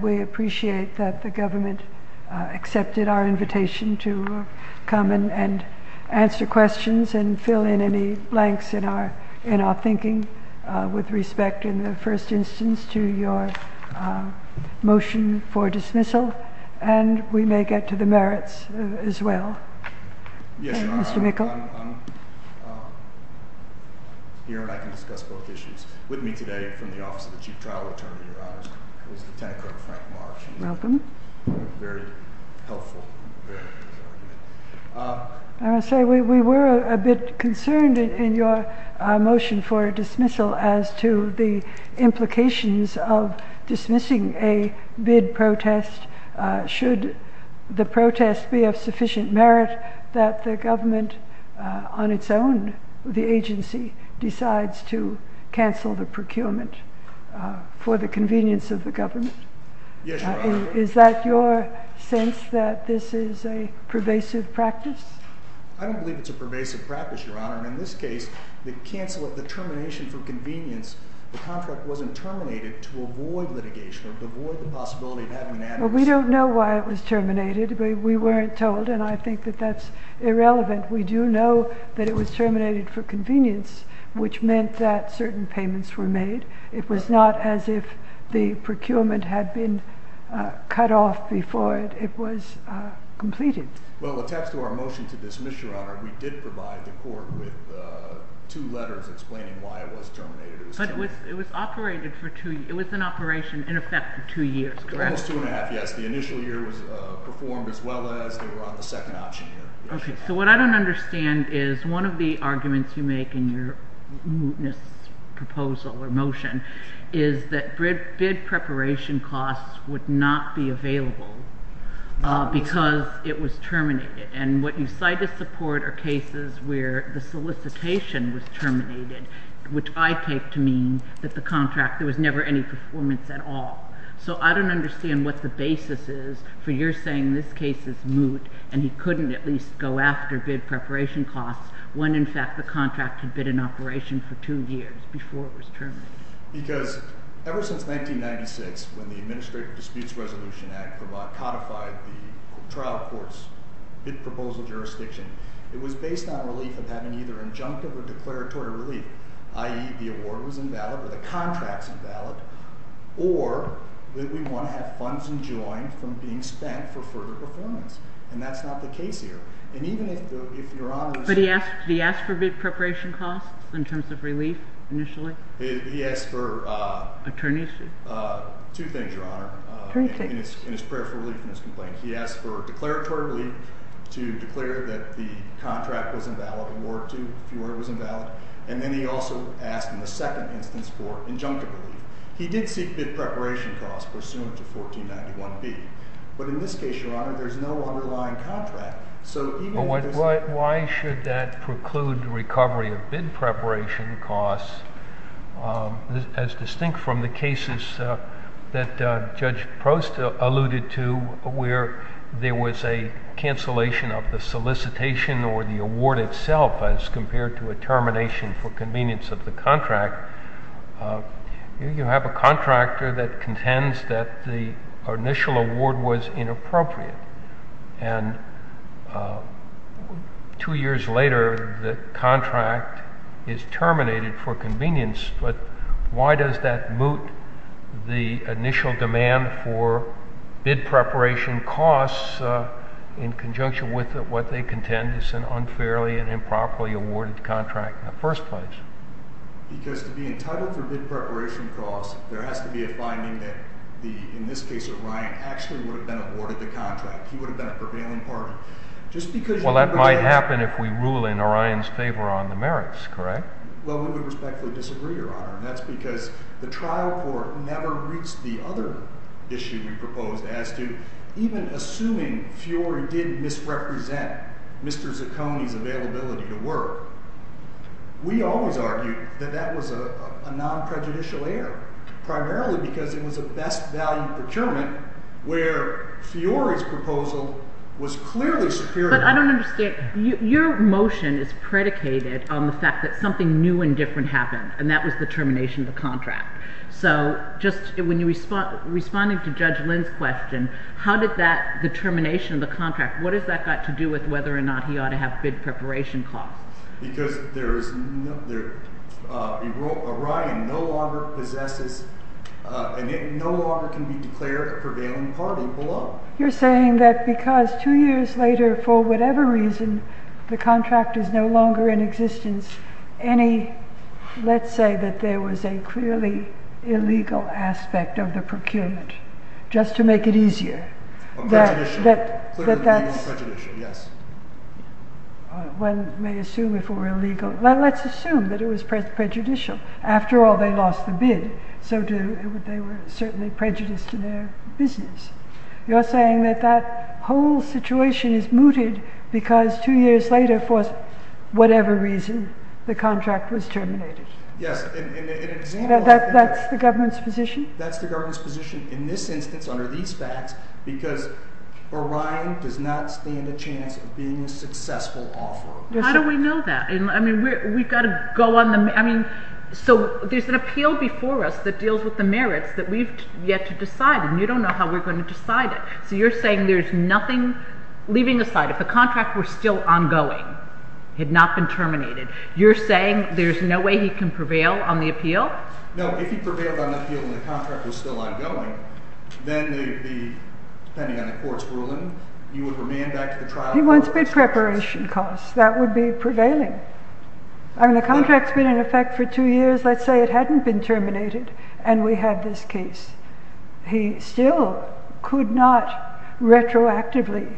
We appreciate that the government accepted our invitation to come and answer questions and fill in any blanks in our thinking with respect in the first instance to your motion for dismissal and we may get to the merits as well, Mr. McClellan. I'm here and I can discuss both issues. With me today from the Office of the Chief Trial Attorney, Your Honor, is Detective Frank Marsh. Welcome. Very helpful. We were a bit concerned in your motion for dismissal as to the implications of dismissing a bid protest should the protest be of sufficient merit that the government on its own, the agency, decides to cancel the procurement for the convenience of the government. Yes, Your Honor. Is that your sense that this is a pervasive practice? I don't believe it's a pervasive practice, Your Honor. In this case, the cancel of the termination for convenience, the contract wasn't terminated to avoid litigation or to avoid the possibility of having an adverse effect. We don't know why it was terminated. We weren't told and I think that that's irrelevant. We do know that it was terminated for convenience, which meant that certain payments were made. It was not as if the procurement had been cut off before it was completed. Well, attached to our motion to dismiss, Your Honor, we did provide the court with two letters explaining why it was terminated. It was an operation in effect for two years, correct? Almost two and a half, yes. The initial year was performed as well as they were on the second option. Okay. So what I don't understand is one of the arguments you make in your mootness proposal or motion is that bid preparation costs would not be available because it was terminated. And what you cite as support are cases where the solicitation was terminated, which I take to mean that the contract, there was never any performance at all. So I don't understand what the basis is for your saying this case is moot and he couldn't at least go after bid preparation costs when in fact the contract had been in operation for two years before it was terminated. Because ever since 1996 when the Administrative Disputes Resolution Act codified the trial court's bid proposal jurisdiction, it was based on relief of having either injunctive or declaratory relief, i.e., the award was invalid or the contract's invalid, or that we want to have funds enjoined from being spent for further performance. And that's not the case here. And even if Your Honor is— But he asked for bid preparation costs in terms of relief initially? He asked for— Attorneys? Two things, Your Honor. Attorneys? In his prayer for relief from his complaint. He asked for declaratory relief to declare that the contract was invalid, award two, if the award was invalid. And then he also asked in the second instance for injunctive relief. He did seek bid preparation costs pursuant to 1491B. But in this case, Your Honor, there's no underlying contract. But why should that preclude recovery of bid preparation costs as distinct from the cases that Judge Prost alluded to where there was a cancellation of the solicitation or the award itself as compared to a termination for convenience of the contract? You have a contractor that contends that the initial award was inappropriate. And two years later, the contract is terminated for convenience. But why does that moot the initial demand for bid preparation costs in conjunction with what they contend is an unfairly and improperly awarded contract in the first place? Because to be entitled for bid preparation costs, there has to be a finding that the—in this case, Orion actually would have been awarded the contract. He would have been a prevailing party. Just because— Well, that might happen if we rule in Orion's favor on the merits, correct? Well, we would respectfully disagree, Your Honor. And that's because the trial court never reached the other issue we proposed as to even assuming Fiori did misrepresent Mr. Zaccone's availability to work. We always argued that that was a non-prejudicial error, primarily because it was a best value procurement where Fiori's proposal was clearly superior. But I don't understand. Your motion is predicated on the fact that something new and different happened, and that was the termination of the contract. So just when you—responding to Judge Lynn's question, how did that—the termination of the contract, what has that got to do with whether or not he ought to have bid preparation costs? Because there is—Orion no longer possesses—and it no longer can be declared a prevailing party below. You're saying that because two years later, for whatever reason, the contract is no longer in existence, any—let's say that there was a clearly illegal aspect of the procurement, just to make it easier. Prejudicial. That that's— Prejudicial, yes. One may assume if it were illegal—let's assume that it was prejudicial. After all, they lost the bid, so they were certainly prejudiced in their business. You're saying that that whole situation is mooted because two years later, for whatever reason, the contract was terminated. Yes. That's the government's position? That's the government's position in this instance, under these facts, because Orion does not stand a chance of being a successful offeror. How do we know that? I mean, we've got to go on the—I mean, so there's an appeal before us that deals with the merits that we've yet to decide, and you don't know how we're going to decide it. So you're saying there's nothing—leaving aside, if the contract were still ongoing, had not been terminated, you're saying there's no way he can prevail on the appeal? No. If he prevailed on the appeal and the contract was still ongoing, then the—depending on the court's ruling, he would remain back to the trial court. If he wants bid preparation costs, that would be prevailing. I mean, the contract's been in effect for two years. Let's say it hadn't been terminated and we had this case. He still could not retroactively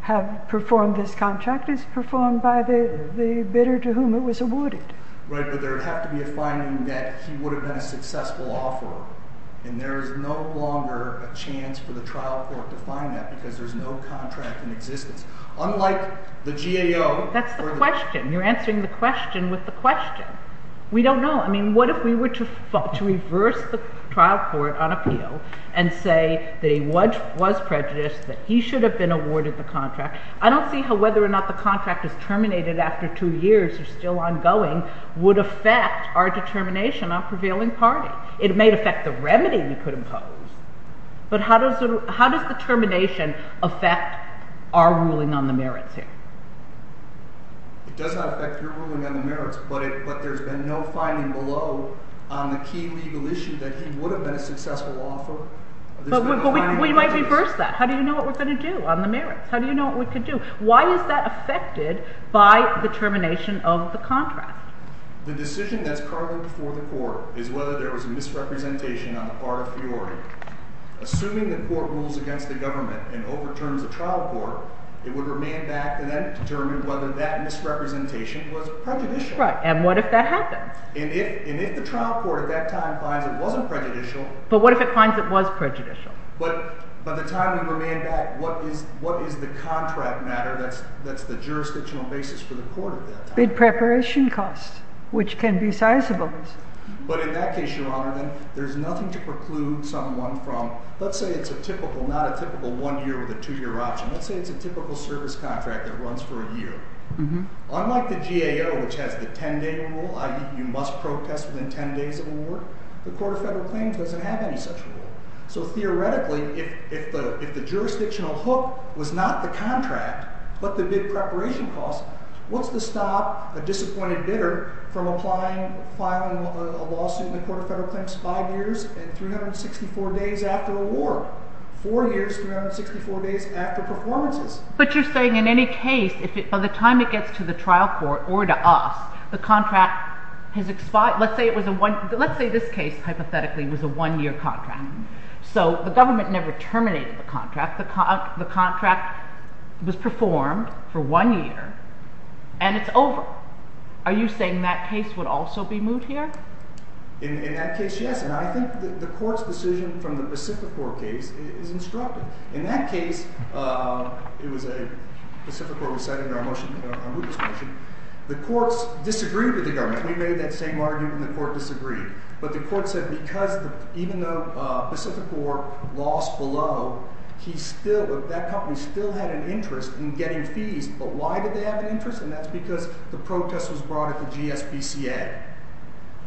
have performed this contract as performed by the bidder to whom it was awarded. Right, but there would have to be a finding that he would have been a successful offeror, and there is no longer a chance for the trial court to find that because there's no contract in existence. Unlike the GAO— That's the question. You're answering the question with the question. We don't know. I mean, what if we were to reverse the trial court on appeal and say that he was prejudiced, that he should have been awarded the contract? I don't see how whether or not the contract is terminated after two years or still ongoing would affect our determination on prevailing party. It may affect the remedy we could impose, but how does the termination affect our ruling on the merits here? It does not affect your ruling on the merits, but there's been no finding below on the key legal issue that he would have been a successful offeror. But we might reverse that. How do you know what we're going to do on the merits? How do you know what we could do? Why is that affected by the termination of the contract? The decision that's currently before the court is whether there was a misrepresentation on the part of the authority. Assuming the court rules against the government and overturns the trial court, it would remain back and then determine whether that misrepresentation was prejudicial. Right. And what if that happened? And if the trial court at that time finds it wasn't prejudicial— But what if it finds it was prejudicial? But by the time we remain back, what is the contract matter that's the jurisdictional basis for the court at that time? Bid preparation costs, which can be sizable. But in that case, Your Honor, then, there's nothing to preclude someone from—let's say it's a typical, not a typical one-year or the two-year option. Let's say it's a typical service contract that runs for a year. Unlike the GAO, which has the 10-day rule, i.e., you must protest within 10 days of award, the Court of Federal Claims doesn't have any such rule. So theoretically, if the jurisdictional hook was not the contract but the bid preparation costs, what's to stop a disappointed bidder from applying, filing a lawsuit in the Court of Federal Claims five years and 364 days after award? Four years, 364 days after performances. But you're saying in any case, if it—by the time it gets to the trial court or to us, the contract has expired—let's say it was a—let's say this case, hypothetically, was a one-year contract. So the government never terminated the contract. The contract was performed for one year, and it's over. Are you saying that case would also be moved here? In that case, yes. And I think the court's decision from the Pacificor case is instructive. In that case, it was a—Pacificor was cited in our motion, our rootless motion. The courts disagreed with the government. We made that same argument, and the court disagreed. But the court said because even though Pacificor lost below, he still—that company still had an interest in getting fees. But why did they have an interest? And that's because the protest was brought at the GSBCA.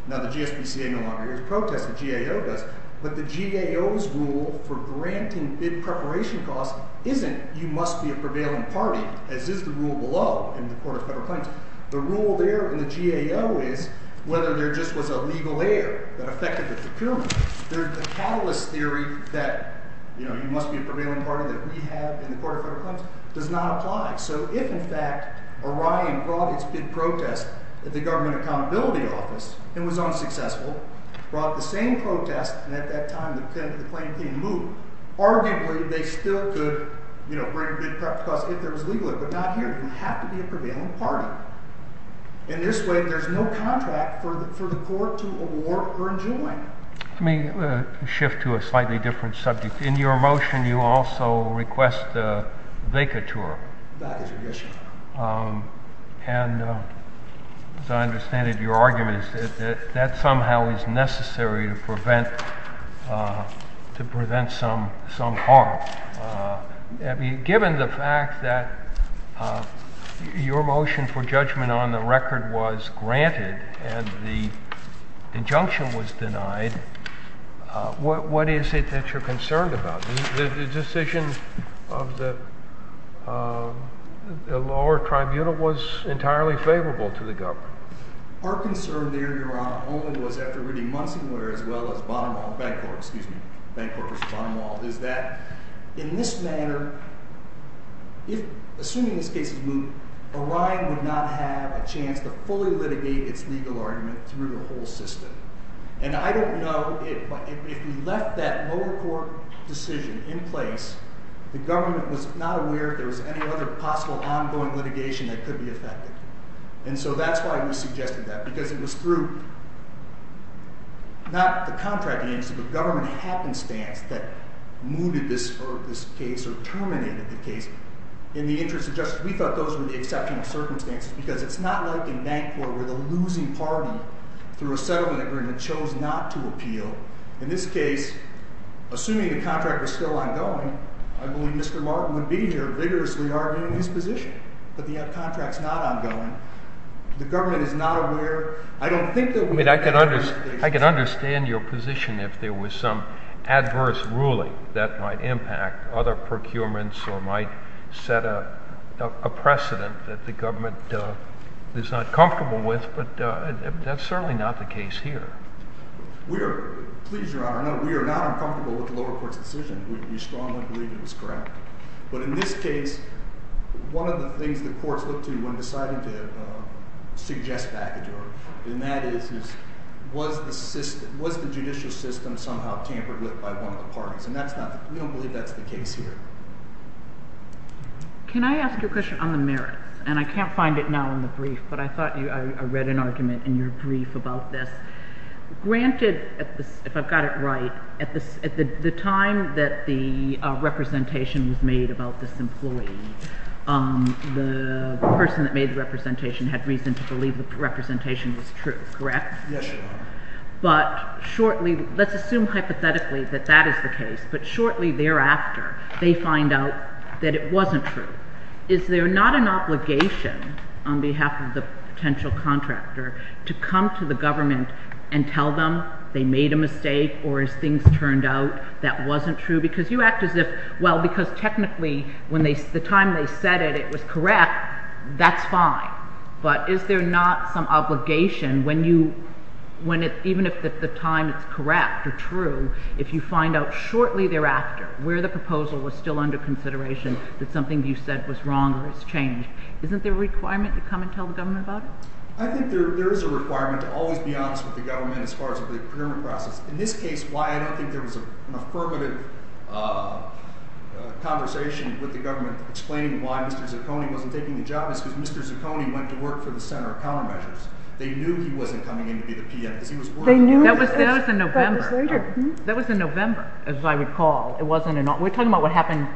Now, the GSBCA no longer hears protests. The GAO does. But the GAO's rule for granting bid preparation costs isn't you must be a prevailing party, as is the rule below in the Court of Federal Claims. The rule there in the GAO is whether there just was a legal error that affected the procurement. The catalyst theory that, you know, you must be a prevailing party that we have in the Court of Federal Claims does not apply. So if, in fact, Orion brought its bid protest at the Government Accountability Office and was unsuccessful, brought the same protest, and at that time the plaintiff didn't move, arguably they still could, you know, bring a bid preparation cost if there was legal error, but not here. You have to be a prevailing party. In this way, there's no contract for the court to award or enjoin. Let me shift to a slightly different subject. In your motion, you also request a vacatur. That is an issue. And as I understand it, your argument is that that somehow is necessary to prevent some harm. Given the fact that your motion for judgment on the record was granted and the injunction was denied, what is it that you're concerned about? The decision of the lower tribunal was entirely favorable to the government. Our concern there, Your Honor, only was after reading Munsonware as well as Bancorp v. Bonomal, is that in this manner, assuming this case is moved, Orion would not have a chance to fully litigate its legal argument through the whole system. And I don't know if we left that lower court decision in place, the government was not aware if there was any other possible ongoing litigation that could be affected. And so that's why we suggested that. Because it was through, not the contracting agency, but government happenstance that moved this case or terminated the case. In the interest of justice, we thought those were the exceptional circumstances because it's not like in Bancorp where the losing party, through a settlement agreement, chose not to appeal. In this case, assuming the contract was still ongoing, I believe Mr. Martin would be here vigorously arguing his position. But the contract's not ongoing. The government is not aware. I don't think that we had any other litigation. I mean, I can understand your position if there was some adverse ruling that might impact other procurements or might set a precedent that the government is not comfortable with. But that's certainly not the case here. Please, Your Honor, we are not uncomfortable with the lower court's decision. We strongly believe it was correct. But in this case, one of the things the courts looked to when deciding to suggest baggage order, and that is, was the judicial system somehow tampered with by one of the parties? And we don't believe that's the case here. Can I ask you a question on the merits? And I can't find it now in the brief, but I thought I read an argument in your brief about this. Granted, if I've got it right, at the time that the representation was made about this employee, the person that made the representation had reason to believe the representation was true, correct? Yes, Your Honor. But shortly, let's assume hypothetically that that is the case. But shortly thereafter, they find out that it wasn't true. Is there not an obligation on behalf of the potential contractor to come to the government and tell them they made a mistake, or as things turned out, that wasn't true? Because you act as if, well, because technically the time they said it, it was correct, that's fine. But is there not some obligation when you, even if at the time it's correct or true, if you find out shortly thereafter where the proposal was still under consideration that something you said was wrong or has changed, isn't there a requirement to come and tell the government about it? I think there is a requirement to always be honest with the government as far as the procurement process. In this case, why I don't think there was an affirmative conversation with the government explaining why Mr. Zucconi wasn't taking the job is because Mr. Zucconi went to work for the Center of Countermeasures. They knew he wasn't coming in to be the PM because he was working there. That was in November. That was later. That was in November, as I recall. We're talking about what happened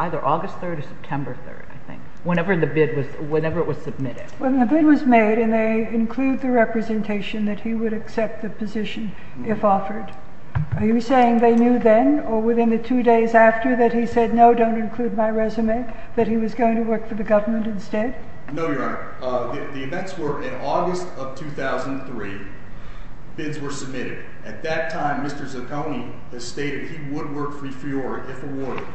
either August 3rd or September 3rd, I think, whenever the bid was submitted. When the bid was made and they include the representation that he would accept the position if offered, are you saying they knew then or within the two days after that he said, no, don't include my resume, that he was going to work for the government instead? No, Your Honor. The events were in August of 2003. Bids were submitted. At that time, Mr. Zucconi has stated he would work for FIORA if awarded.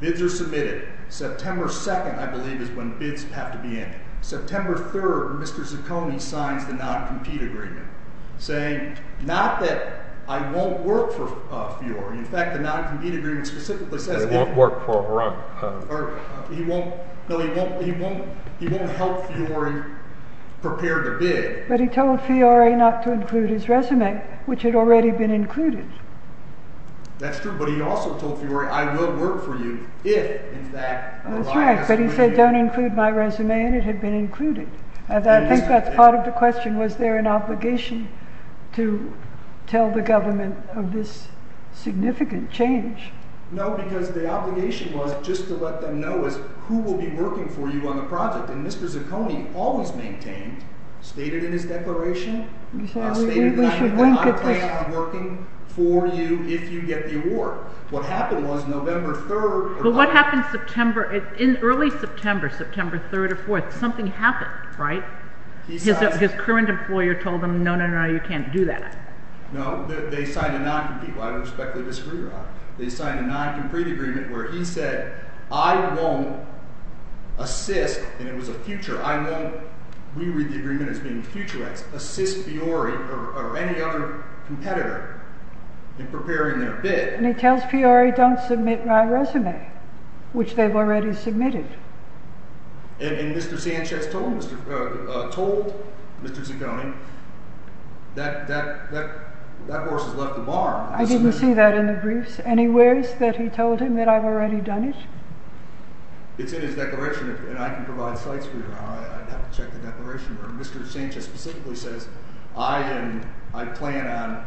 Bids are submitted. September 2nd, I believe, is when bids have to be in. September 3rd, Mr. Zucconi signs the non-compete agreement, saying not that I won't work for FIORA. In fact, the non-compete agreement specifically says he won't help FIORA prepare the bid. But he told FIORA not to include his resume, which had already been included. That's true. But he also told FIORA, I will work for you if, in fact, my resume is included. That's right, but he said don't include my resume, and it had been included. I think that's part of the question. Was there an obligation to tell the government of this significant change? No, because the obligation was just to let them know who will be working for you on the project. And Mr. Zucconi always maintained, stated in his declaration, stated that I plan on working for you if you get the award. But what happened in early September, September 3rd or 4th, something happened, right? His current employer told him no, no, no, you can't do that. No, they signed a non-compete, which I respectfully disagree with. They signed a non-compete agreement where he said I won't assist, and it was a future, I won't re-read the agreement as being a future, assist FIORA or any other competitor in preparing their bid. And he tells FIORA don't submit my resume, which they've already submitted. And Mr. Sanchez told Mr. Zucconi that that horse has left the barn. I didn't see that in the briefs. Any worries that he told him that I've already done it? It's in his declaration, and I can provide sites for you. I'd have to check the declaration. Mr. Sanchez specifically says I plan on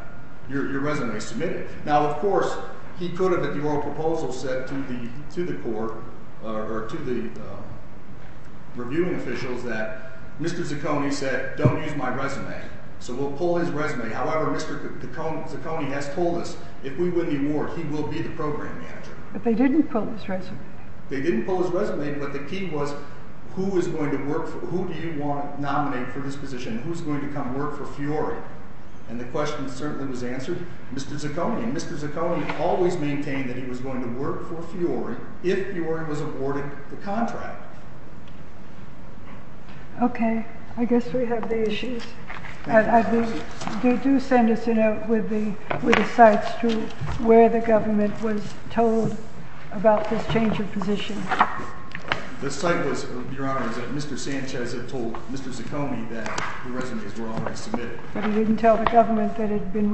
your resume submitted. Now, of course, he could have at the oral proposal said to the court or to the reviewing officials that Mr. Zucconi said don't use my resume. So we'll pull his resume. However, Mr. Zucconi has told us if we win the award, he will be the program manager. They didn't pull his resume, but the key was who do you want to nominate for this position? Who's going to come work for FIORA? And the question certainly was answered, Mr. Zucconi. And Mr. Zucconi always maintained that he was going to work for FIORA if FIORA was awarded the contract. Okay. I guess we have the issues. Do send us a note with the sites to where the government was told about this change of position. The site was, Your Honor, that Mr. Sanchez had told Mr. Zucconi that the resumes were already submitted. But he didn't tell the government that it had been. Thank you.